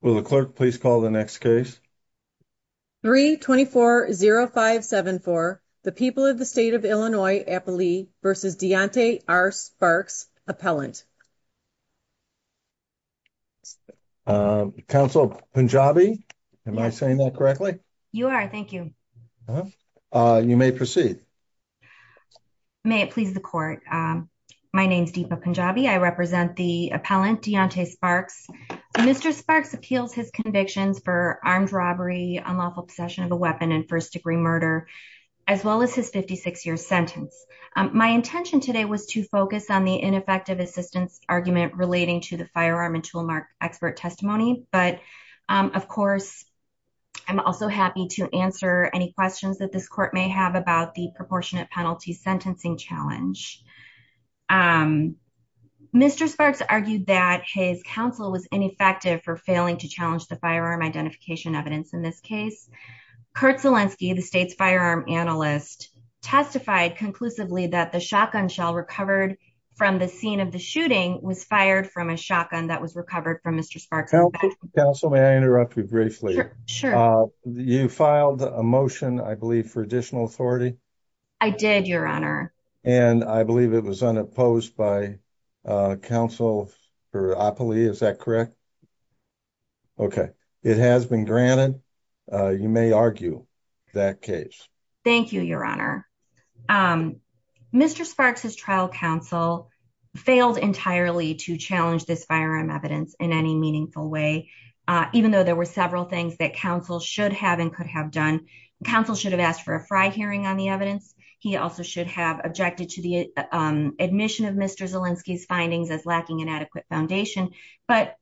Well, the clerk, please call the next case 324 0574. The people of the state of Illinois versus Deontay are sparks appellant. Council Punjabi. Am I saying that correctly? You are. Thank you. You may proceed. May it please the court. My name's Deepa Punjabi. I represent the appellant Deontay Sparks. Mr. Sparks appeals his convictions for armed robbery, unlawful possession of a weapon and first degree murder, as well as his 56 year sentence. My intention today was to focus on the ineffective assistance argument relating to the firearm and toolmark expert testimony. But of course, I'm also happy to answer any questions that this court may have about the disproportionate penalty sentencing challenge. Mr. Sparks argued that his counsel was ineffective for failing to challenge the firearm identification evidence in this case. Kurt Zelinsky, the state's firearm analyst, testified conclusively that the shotgun shell recovered from the scene of the shooting was fired from a shotgun that was recovered from Mr. Sparks. Counsel, may I interrupt you briefly? Sure. You filed a motion, I believe, for additional authority. I did, your honor. And I believe it was unopposed by counsel. Is that correct? Okay. It has been granted. You may argue that case. Thank you, your honor. Mr. Sparks's trial counsel failed entirely to challenge this firearm evidence in any meaningful way, even though there were several things that counsel should have and could have done. Counsel should have asked for a fry hearing on the evidence. He also should have objected to the admission of Mr. Zelinsky's findings as lacking an adequate foundation. But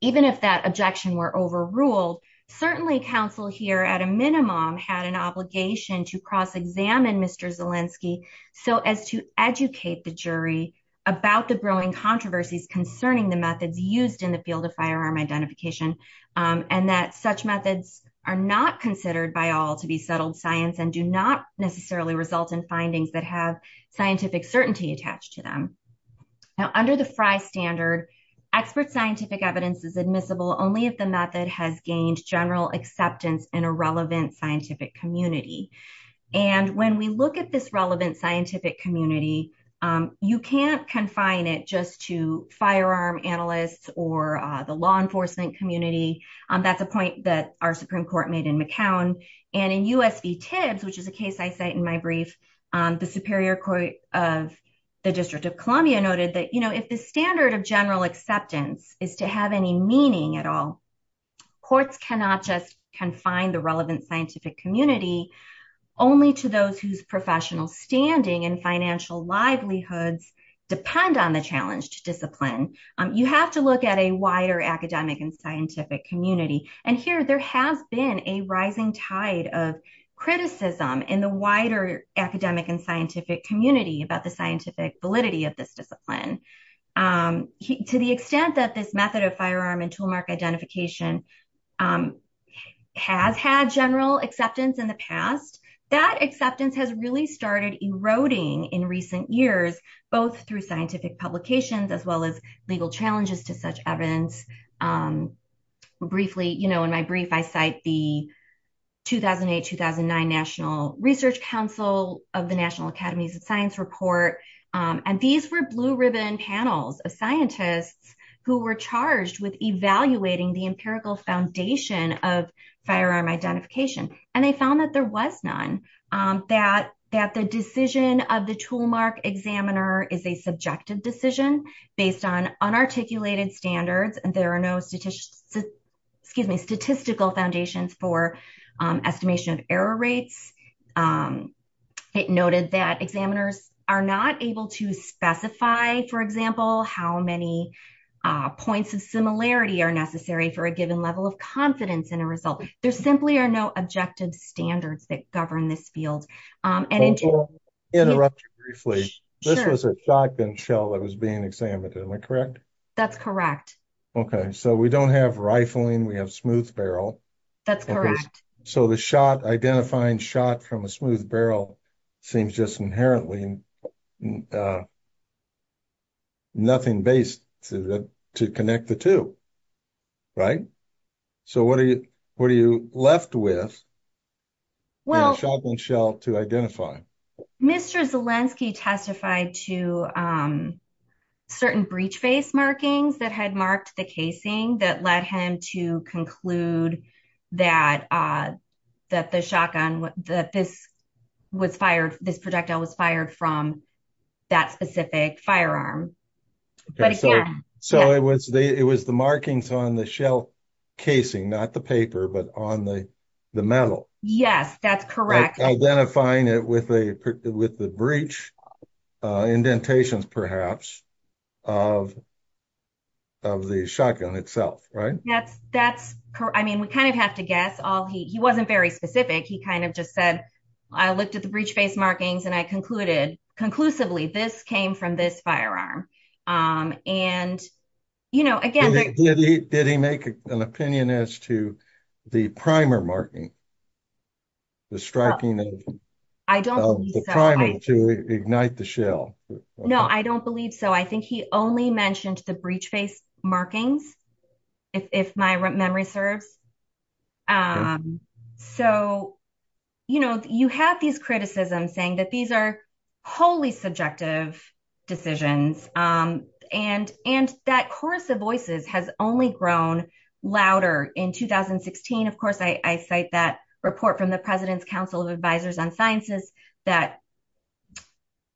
even if that objection were overruled, certainly counsel here at a minimum had an obligation to cross-examine Mr. Zelinsky so as to educate the jury about the growing controversies concerning the methods used in the field of firearm identification and that such methods are not considered by all to be settled science and do not necessarily result in findings that have scientific certainty attached to them. Now, under the fry standard, expert scientific evidence is admissible only if the method has gained general acceptance in a relevant scientific community. And when we look at this relevant scientific community, you can't confine it just to firearm analysts or the law enforcement community. That's a point that our Supreme Court made in McCown. And in US v. Tibbs, which is a case I cite in my brief, the Superior Court of the District of Columbia noted that, you know, standard of general acceptance is to have any meaning at all. Courts cannot just confine the relevant scientific community only to those whose professional standing and financial livelihoods depend on the challenged discipline. You have to look at a wider academic and scientific community. And here there has been a rising tide of criticism in the wider academic and scientific community about the scientific validity of this discipline. To the extent that this method of firearm and tool mark identification has had general acceptance in the past, that acceptance has really started eroding in recent years, both through scientific publications as well as legal challenges to such evidence. Briefly, you know, in my brief, I cite the 2008-2009 National Research Council of the National Academies of Science report, and these were blue ribbon panels of scientists who were charged with evaluating the empirical foundation of firearm identification. And they found that there was none, that the decision of the tool mark examiner is a subjective decision based on unarticulated standards, and there are no statistical foundations for estimation of error rates. It noted that examiners are not able to specify, for example, how many points of similarity are necessary for a given level of confidence in a result. There simply are no objective standards that govern this field. I'll interrupt you briefly. This was a shotgun shell that was being examined, am I correct? That's correct. Okay, so we don't have rifling, we have smooth barrel. That's correct. So the identifying shot from a smooth barrel seems just inherently nothing based to connect the two, right? So what are you left with in a shotgun shell to identify? Mr. Zelensky testified to certain breech face markings that had marked the casing that led him to conclude that this projectile was fired from that specific firearm. So it was the markings on the shell casing, not the paper, but on the metal. Yes, that's correct. Identifying it with the breech indentations, perhaps, of the shotgun itself, right? Yes, that's correct. I mean, we kind of have to guess. He wasn't very specific. He kind of just said, I looked at the breech face markings and I concluded, conclusively, this came from this firearm. Did he make an opinion as to the primer marking, the striking of the primer to ignite the shell? No, I don't believe so. I think he only mentioned the breech face markings, if my memory serves. So, you know, you have these criticisms saying that these are wholly subjective decisions and that chorus of voices has only grown louder in 2016. Of course, I cite that report from the President's Council of Advisors on Sciences that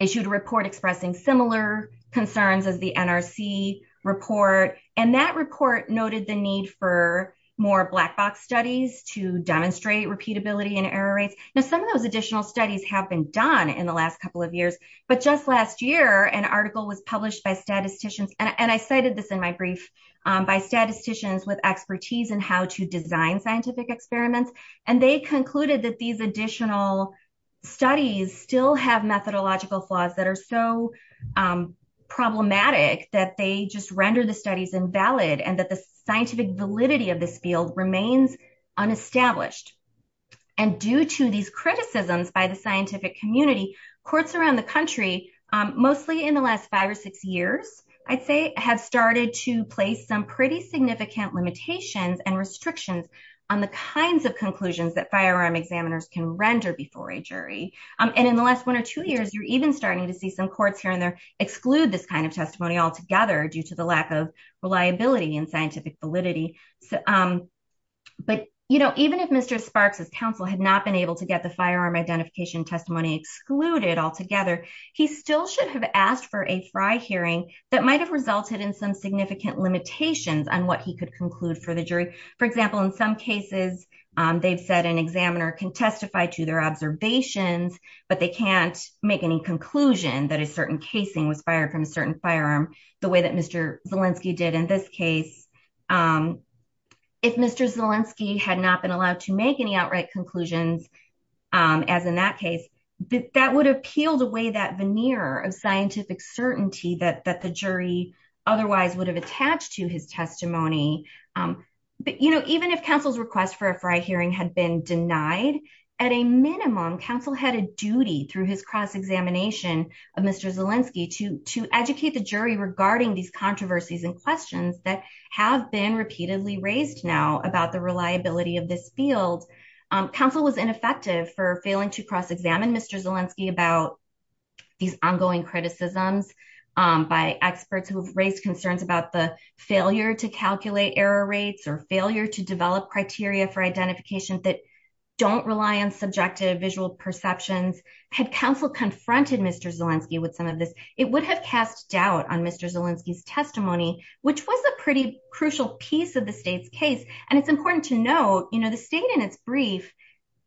issued a report expressing similar concerns as the NRC report, and that report noted the need for more black box studies to demonstrate repeatability and error rates. Now, some of those additional studies have been done in the last couple of years, but just last year, an article was published by statisticians, and I cited this in my brief, by statisticians with expertise in how to design scientific experiments, and they concluded that these additional studies still have methodological flaws that are so problematic that they just render the studies invalid and that the scientific validity of this field remains unestablished. And due to these criticisms by the scientific community, courts around the country, mostly in the last five or six years, I'd say, have started to place some pretty significant limitations and restrictions on the kinds of conclusions that firearm examiners can render before a jury. And in the last one or two years, you're even starting to see some courts here and there exclude this kind of testimony altogether due to the lack of reliability and scientific validity. But, you know, even if Mr. Sparks's counsel had not been able to get the firearm identification testimony excluded altogether, he still should have asked for a FRI hearing that might have resulted in some significant limitations on what he could conclude for the jury. For example, in some cases, they've said an examiner can testify to their observations, but they can't make any conclusion that a certain casing was fired from a certain firearm the way that Mr. Zielinski did in this case. If Mr. Zielinski had not been allowed to make any outright conclusions, as in that case, that would have peeled away that veneer of scientific certainty that the jury otherwise would have attached to his testimony. But, you know, even if counsel's request for a FRI hearing had been denied, at a minimum, counsel had a duty through his cross-examination of Mr. Zielinski to educate the jury regarding these controversies and questions that have been repeatedly raised now about the reliability of this field. Counsel was ineffective for failing to cross-examine Mr. Zielinski about these ongoing criticisms by experts who've raised concerns about the failure to calculate error rates or failure to develop criteria for identification that don't rely on subjective visual perceptions. Had counsel confronted Mr. Zielinski with some of it would have cast doubt on Mr. Zielinski's testimony, which was a pretty crucial piece of the state's case. And it's important to note, you know, the state in its brief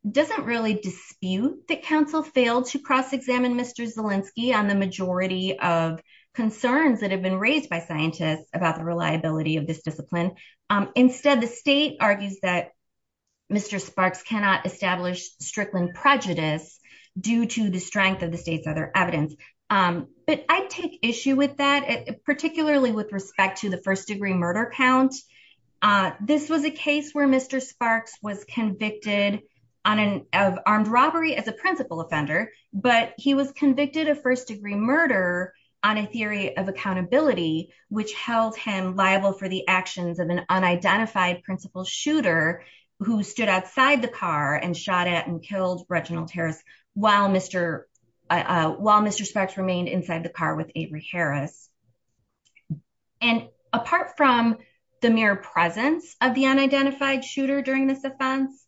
doesn't really dispute that counsel failed to cross-examine Mr. Zielinski on the majority of concerns that have been raised by scientists about the reliability of this discipline. Instead, the state argues that Mr. Sparks cannot establish Strickland prejudice due to the strength of the state's other evidence. But I take issue with that, particularly with respect to the first degree murder count. This was a case where Mr. Sparks was convicted of armed robbery as a principal offender, but he was convicted of first degree murder on a theory of accountability, which held him liable for the actions of an unidentified principal shooter who stood outside the car and shot at and killed Reginald Harris while Mr. Sparks remained inside the car with Avery Harris. And apart from the mere presence of the unidentified shooter during this offense,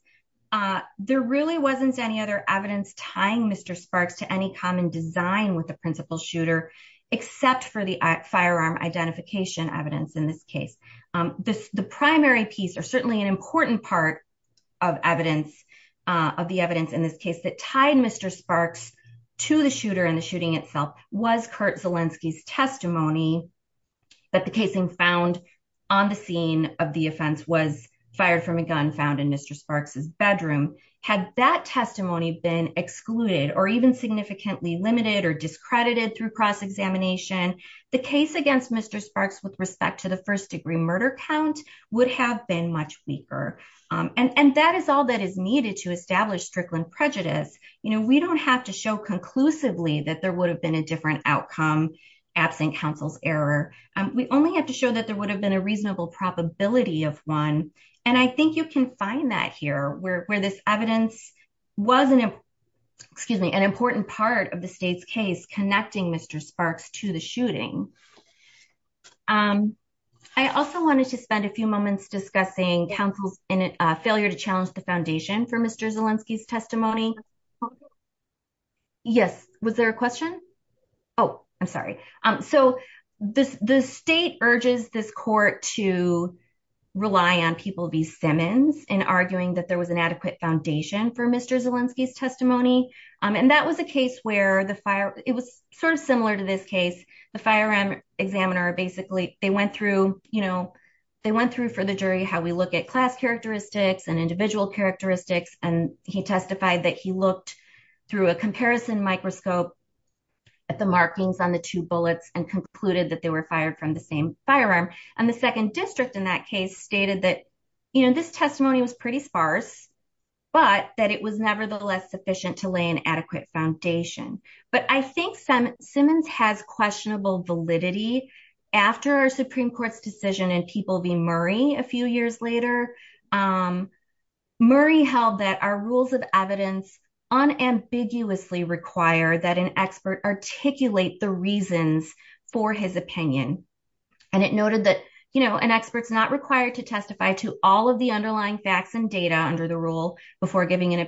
there really wasn't any other evidence tying Mr. Sparks to any common design with the principal shooter, except for the firearm identification evidence in this case. The primary piece or certainly an important part of the evidence in this case that tied Mr. Sparks to the shooter and the shooting itself was Kurt Zielinski's testimony that the casing found on the scene of the offense was fired from a gun found in Mr. Sparks's bedroom. Had that testimony been excluded or even significantly limited or discredited through cross-examination, the case against Mr. Sparks with respect to the first degree murder count would have been much weaker. And that is all that is needed to establish Strickland prejudice. We don't have to show conclusively that there would have been a different outcome absent counsel's error. We only have to show that there would have been a reasonable probability of one. And I think you can find that here where this evidence was an important part of the state's case connecting Mr. Sparks to the shooting. I also wanted to spend a few moments discussing counsel's failure to challenge the foundation for Mr. Zielinski's testimony. Yes, was there a question? Oh, I'm sorry. So the state urges this court to rely on people v. Simmons in arguing that there was an adequate foundation for Mr. Zielinski's testimony. And that was a case where the fire, it was sort of similar to this case, the firearm examiner, basically they went through, you know, they went through for the jury, how we look at class characteristics and individual characteristics. And he testified that he looked through a comparison microscope at the markings on the two bullets and concluded that they were fired from the same firearm. And the second district in that case stated that, you know, this testimony was pretty sparse, but that it was nevertheless sufficient to lay an foundation. But I think Simmons has questionable validity. After our Supreme Court's decision and people v. Murray a few years later, Murray held that our rules of evidence unambiguously require that an expert articulate the reasons for his opinion. And it noted that, you know, an expert's not required to testify to all of the underlying facts and data under the rule before giving an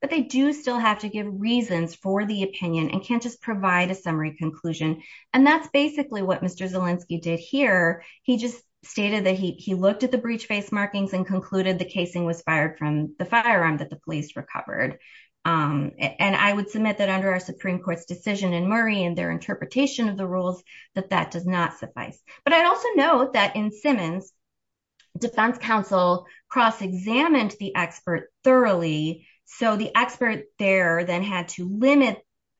but they do still have to give reasons for the opinion and can't just provide a summary conclusion. And that's basically what Mr. Zielinski did here. He just stated that he looked at the breach face markings and concluded the casing was fired from the firearm that the police recovered. And I would submit that under our Supreme Court's decision and Murray and their interpretation of the rules, that that does not suffice. But I'd also note that in Simmons, Defense Counsel cross-examined the expert thoroughly. So the expert there then had to limit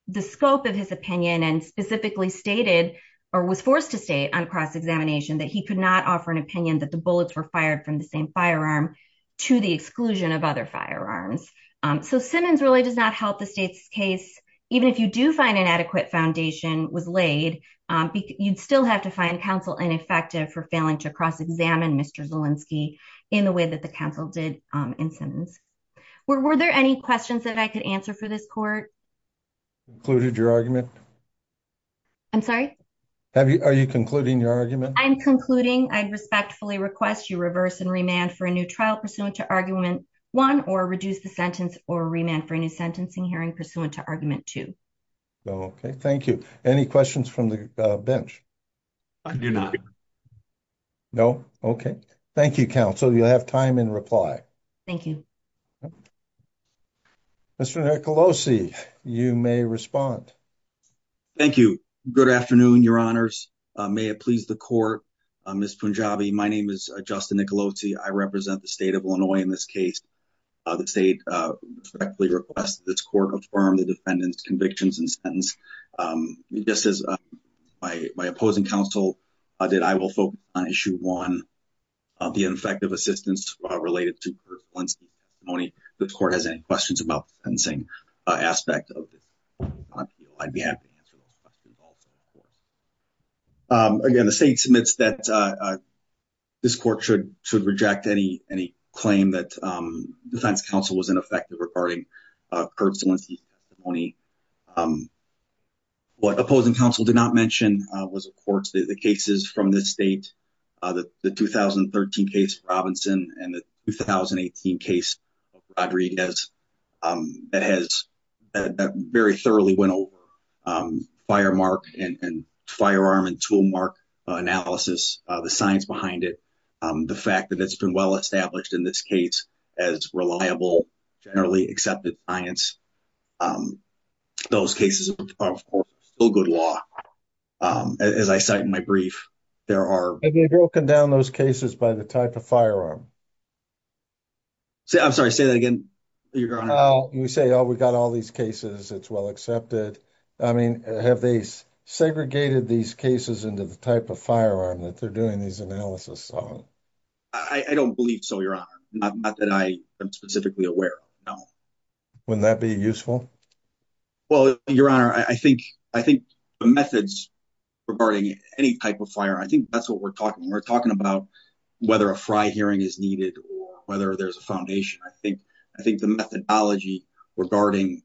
the scope of his opinion and specifically stated or was forced to state on cross-examination that he could not offer an opinion that the bullets were fired from the same firearm to the exclusion of other firearms. So Simmons really does not help the state's case. Even if you do find an adequate foundation was laid, you'd still have to find counsel ineffective for failing to cross-examine Mr. Zielinski in the way that the counsel did in Simmons. Were there any questions that I could answer for this court? Included your argument? I'm sorry? Are you concluding your argument? I'm concluding. I respectfully request you reverse and remand for a new trial pursuant to argument one or reduce the sentence or remand for a new sentencing hearing pursuant to argument two. Okay. Thank you. Any questions from the bench? I do not. No? Okay. Thank you, counsel. You'll have time in reply. Thank you. Mr. Nicolosi, you may respond. Thank you. Good afternoon, your honors. May it please the court. Ms. Punjabi, my name is Justin Nicolosi. I represent the state of Illinois in this case. The state respectfully requests this court affirm the defendant's convictions and sentence. Just as my opposing counsel did, I will focus on issue one of the ineffective assistance related to Kurt Zielinski's testimony. If the court has any questions about the sentencing aspect of this, I'd be happy to answer those questions also. Again, the state submits that this court should reject any claim that defense counsel was ineffective regarding Kurt Zielinski's testimony. What opposing counsel did not mention was, of course, the cases from this state, the 2013 case Robinson and the 2018 case Rodriguez that has very thoroughly went over firemark and firearm and toolmark analysis, the science behind it, the fact that it's been well established in this case as reliable, generally accepted science. Those cases are, of course, still good law. As I cite in my brief, there are... Have you broken down those cases by the type of firearm? I'm sorry, say that again, your honor. You say, oh, we got all these cases, it's well accepted. I mean, have they segregated these cases into the type of firearm that they're doing these analysis on? I don't believe so, your honor. Not that I am specifically aware of, no. Wouldn't that be useful? Well, your honor, I think the methods regarding any type of firearm, I think that's what we're talking. We're talking about whether a fry hearing is needed or whether there's a foundation. I think the methodology regarding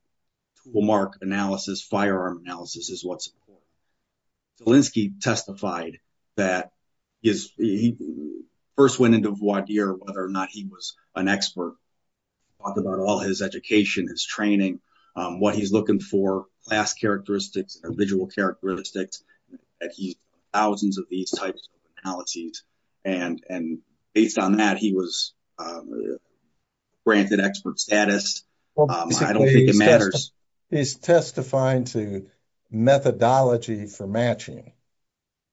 toolmark analysis, firearm analysis is what's important. Zielinski testified that he first went into voir dire whether or not he was an expert, talked about all his education, his training, what he's looking for, class characteristics, individual characteristics, that he's done thousands of these types of analyses. And based on that, he was granted expert status. I don't think it matters. He's testifying to methodology for matching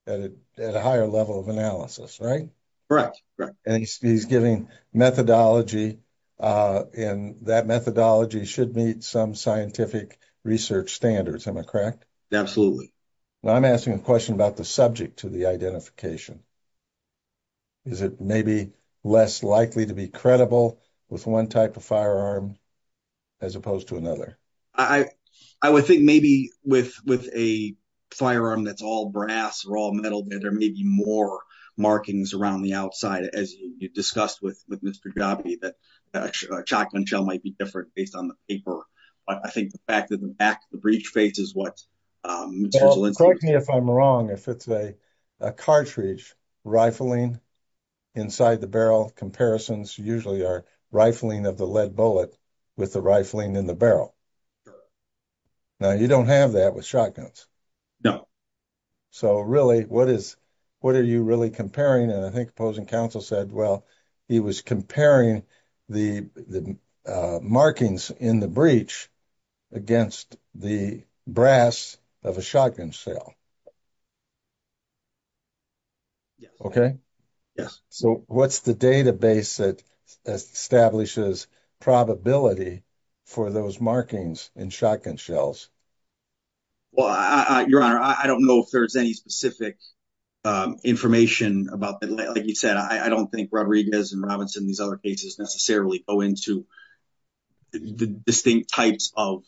at a higher level of analysis, right? Correct, correct. And he's giving methodology, and that methodology should meet some scientific research standards, am I correct? Absolutely. Well, I'm asking a question about the subject to the identification. Is it maybe less likely to be credible with one type of firearm as opposed to another? I would think maybe with a firearm that's all brass or all metal, that there may be more markings around the outside, as you discussed with Mr. Jabi, that a shotgun shell might be different based on the paper. But I think the fact that the back of the breech face is what Mr. Zielinski- Correct me if I'm wrong, if it's a cartridge, rifling inside the barrel, comparisons usually are rifling of the lead bullet with the rifling in the barrel. Now, you don't have that with shotguns. No. So really, what are you really comparing? And I think opposing counsel said, well, he was comparing the markings in the breech against the brass of a shotgun shell. Okay? Yes. So what's the database that establishes probability for those markings in shotgun shells? Well, Your Honor, I don't know if there's any specific information about that. Like you said, I don't think Rodriguez and Robinson, these other cases necessarily go into the distinct types of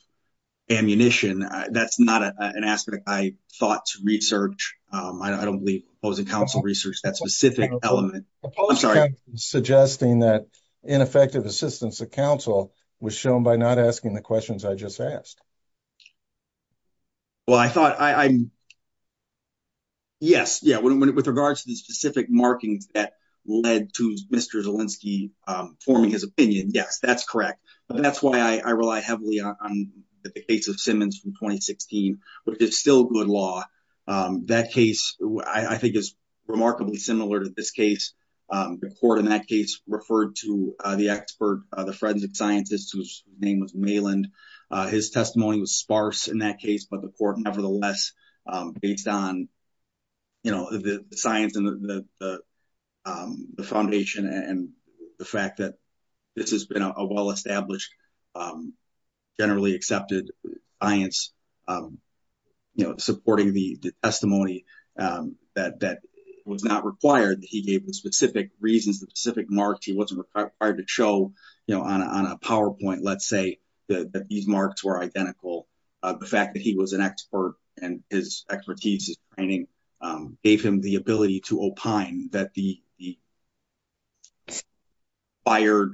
ammunition. That's not an aspect I thought to research. I don't believe opposing counsel researched that specific element. I'm sorry. Suggesting that ineffective assistance of counsel was shown by not asking the questions I just asked. Well, I thought, yes, yeah. With regards to the specific markings that led to Mr. Zielinski forming his opinion, yes, that's correct. But that's why I rely heavily on the case of Simmons from 2016, which is still good law. That case, I think, is remarkably similar to this case. The court in that case referred to the expert, the forensic scientist, whose name was Maland. His testimony was sparse in that case, but the court, nevertheless, based on the science and the foundation and the fact that this has been a well-established, generally accepted science, supporting the testimony that was not required. He gave the specific reasons, the specific marks he wasn't required to show on a PowerPoint, let's say, that these marks were identical. The fact that he was an expert and his expertise, his training, gave him the ability to opine that the fired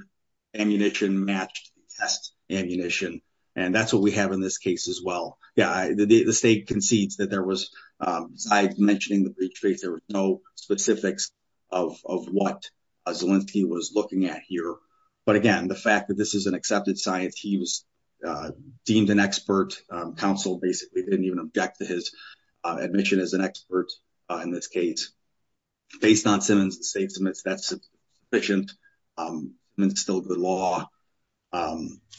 ammunition matched the test ammunition. And that's what we have in this case as well. Yeah, the state concedes that there was, I've mentioned in the briefcase, there were no specifics of what Zielinski was looking at here. But again, the fact that this is an accepted science, he was deemed an expert. Counsel basically didn't even object to his admission as an expert. In this case, based on Simmons, the state admits that's sufficient and it's still the law.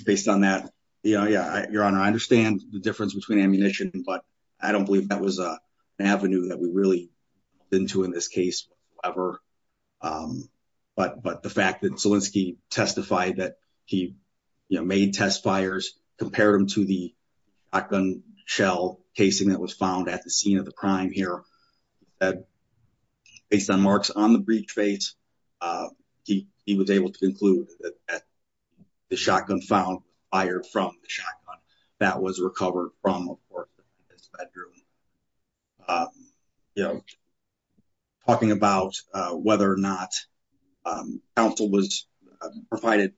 Based on that, yeah, your honor, I understand the difference between ammunition, but I don't believe that was an avenue that we really went into in this case, however. But the fact that Zielinski testified that he made test fires, compared them to the shotgun shell casing that was found at the scene of the crime here, based on marks on the briefcase, he was able to conclude that the shotgun found fired from the shotgun that was recovered from his bedroom. You know, talking about whether or not counsel was provided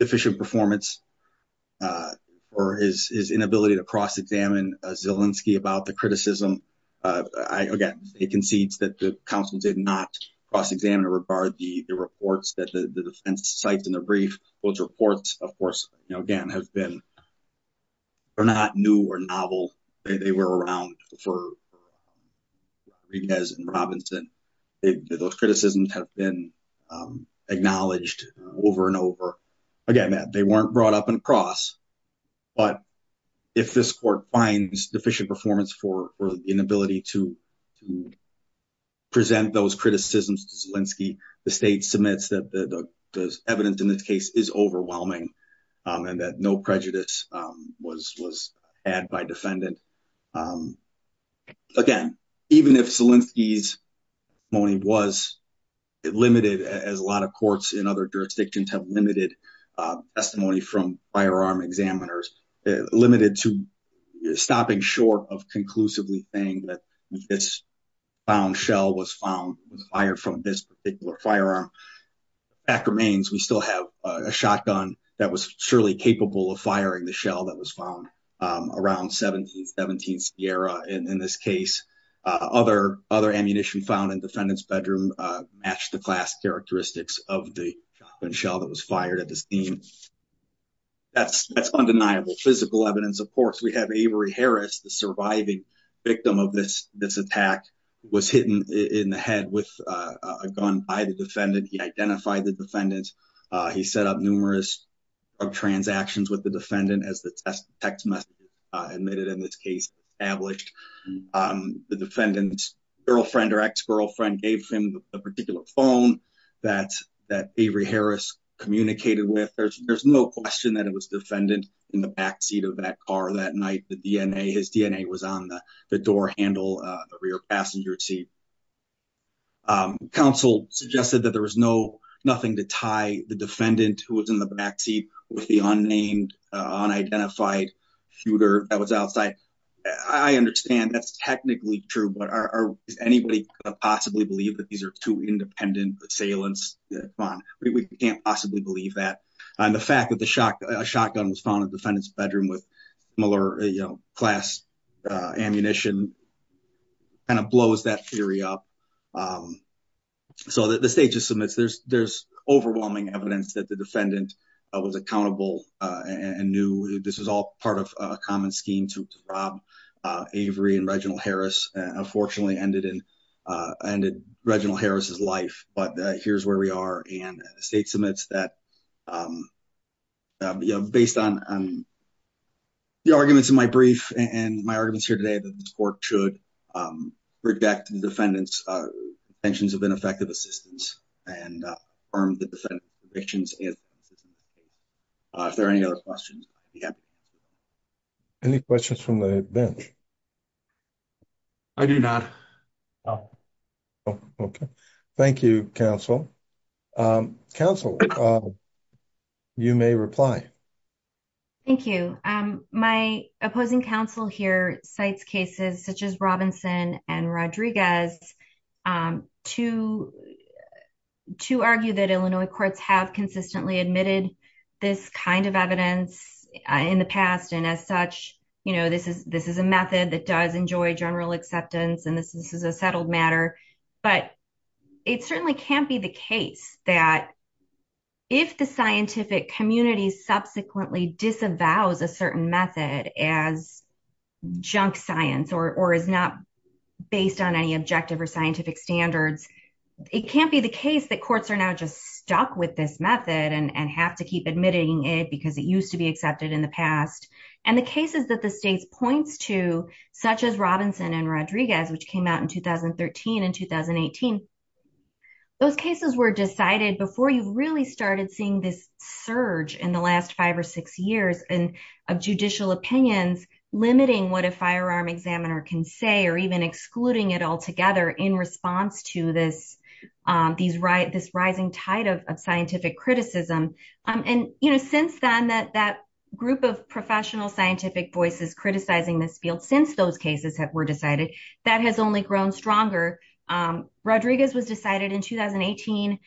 efficient performance or his inability to cross-examine Zielinski about the criticism. Again, it concedes that the counsel did not cross-examine or regard the reports that the defense cites in the brief. Those reports, of course, again, have been not new or novel. They were around for Riguez and Robinson. Those criticisms have been acknowledged over and over. Again, they weren't brought up in cross, but if this court finds deficient performance for the inability to present those criticisms to Zielinski, the state submits that the evidence in this case is overwhelming and that no prejudice was had by defendant. Again, even if Zielinski's testimony was limited, as a lot of courts in other jurisdictions have limited testimony from firearm examiners, limited to stopping short of conclusively saying that this found shell was found, was fired from this particular firearm, that remains. We still have a shotgun that was surely capable of firing the shell that was found around 17th Sierra. In this case, other ammunition found in defendant's bedroom matched the class characteristics of the shotgun shell that was seen. That's undeniable physical evidence. Of course, we have Avery Harris, the surviving victim of this attack, was hidden in the head with a gun by the defendant. He identified the defendant. He set up numerous transactions with the defendant as the text message admitted in this case established. The defendant's girlfriend or ex-girlfriend gave him a particular phone that Avery Harris communicated with. There's no question that it was defendant in the backseat of that car that night. His DNA was on the door handle of the rear passenger seat. Counsel suggested that there was nothing to tie the defendant who was in the backseat with the unnamed, unidentified shooter that was outside. I understand that's technically true, does anybody possibly believe that these are two independent assailants? We can't possibly believe that. The fact that a shotgun was found in the defendant's bedroom with class ammunition blows that theory up. The state just submits. There's overwhelming evidence that the defendant was accountable and knew this was all part of a common scheme to rob Avery and unfortunately ended Reginald Harris's life. But here's where we are and the state submits that based on the arguments in my brief and my arguments here today, that this court should bring back to the defendants' attentions of ineffective assistance and the defendants' convictions. If there are any other questions. Any questions from the bench? I do not. Okay. Thank you, counsel. Counsel, you may reply. Thank you. My opposing counsel here such as Robinson and Rodriguez to argue that Illinois courts have consistently admitted this kind of evidence in the past and as such, this is a method that does enjoy general acceptance and this is a settled matter. But it certainly can't be the case that if the scientific community subsequently disavows a certain method as junk science or is not based on any objective or scientific standards, it can't be the case that courts are now just stuck with this method and have to keep admitting it because it used to be accepted in the past. And the cases that the states points to, such as Robinson and Rodriguez, which came out in 2013 and 2018, those cases were decided before you really started seeing this surge in the last five or six years of judicial opinions limiting what a firearm examiner can say or even excluding it altogether in response to this rising tide of scientific criticism. And since then, that group of professional scientific voices criticizing this field, since those cases were decided, that has only grown stronger. Rodriguez was decided in 2018.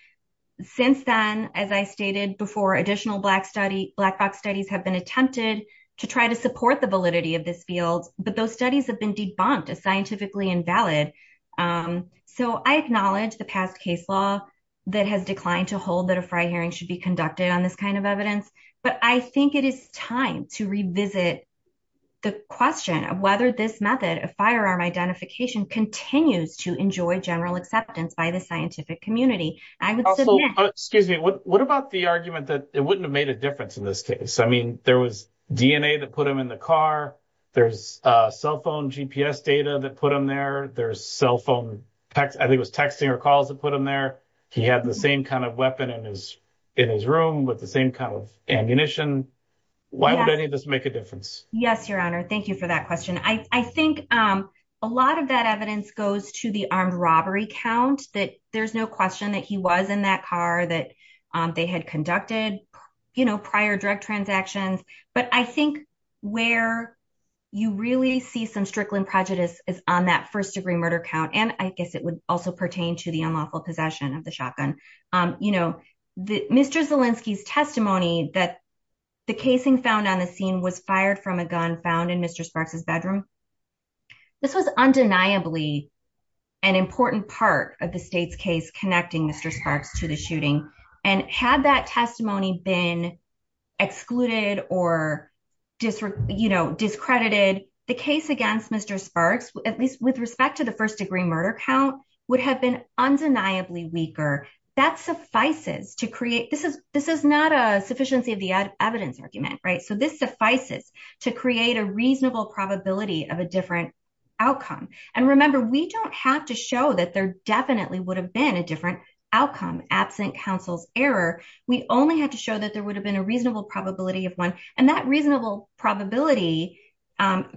Since then, as I stated before, additional black box studies have been attempted to try to support the validity of this field, but those studies have been debunked as scientifically invalid. So I acknowledge the past case law that has declined to hold that a FRI hearing should be conducted on this kind of evidence, but I think it is time to revisit the question of whether this method of firearm identification continues to enjoy general acceptance by the scientific community. I would say- Excuse me. What about the argument that it wouldn't have made a difference in this case? I mean, there was DNA that put him in the car. There's a cell phone GPS data that put him there. There's cell phone, I think it was texting or calls that put him there. He had the same kind of weapon in his room with the same kind of ammunition. Why would any of this make a difference? Yes, your honor. Thank you for that question. I think a lot of that evidence goes to the armed robbery count, that there's no question that he was in that car, that they had conducted prior drug transactions. But I think where you really see some Strickland prejudice is on that first degree murder count, and I guess it would also pertain to unlawful possession of the shotgun. Mr. Zielinski's testimony that the casing found on the scene was fired from a gun found in Mr. Sparks' bedroom, this was undeniably an important part of the state's case connecting Mr. Sparks to the shooting. And had that testimony been excluded or discredited, the case against Mr. Sparks, at least with respect to the first degree murder count, would have been undeniably weaker. That suffices to create, this is not a sufficiency of the evidence argument, right? So this suffices to create a reasonable probability of a different outcome. And remember, we don't have to show that there definitely would have been a different outcome absent counsel's error. We only have to show that there would have been a reasonable probability of one, and that reasonable probability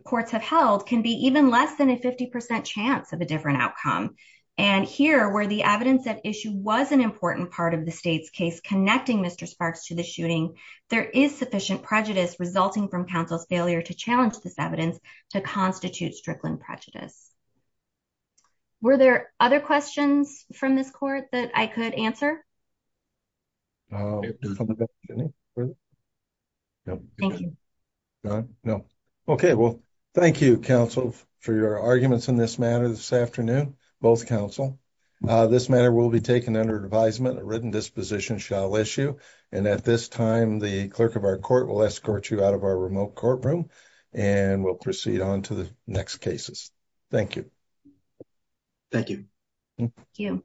courts have held can be even less than a 50% chance of a different outcome. And here, where the evidence at issue was an important part of the state's case connecting Mr. Sparks to the shooting, there is sufficient prejudice resulting from counsel's failure to challenge this evidence to constitute Strickland prejudice. Were there other questions from this board that I could answer? No. Okay. Well, thank you, counsel, for your arguments in this matter this afternoon, both counsel. This matter will be taken under advisement. A written disposition shall issue. And at this time, the clerk of our court will escort you out of our remote courtroom and will proceed on to the next cases. Thank you. Thank you.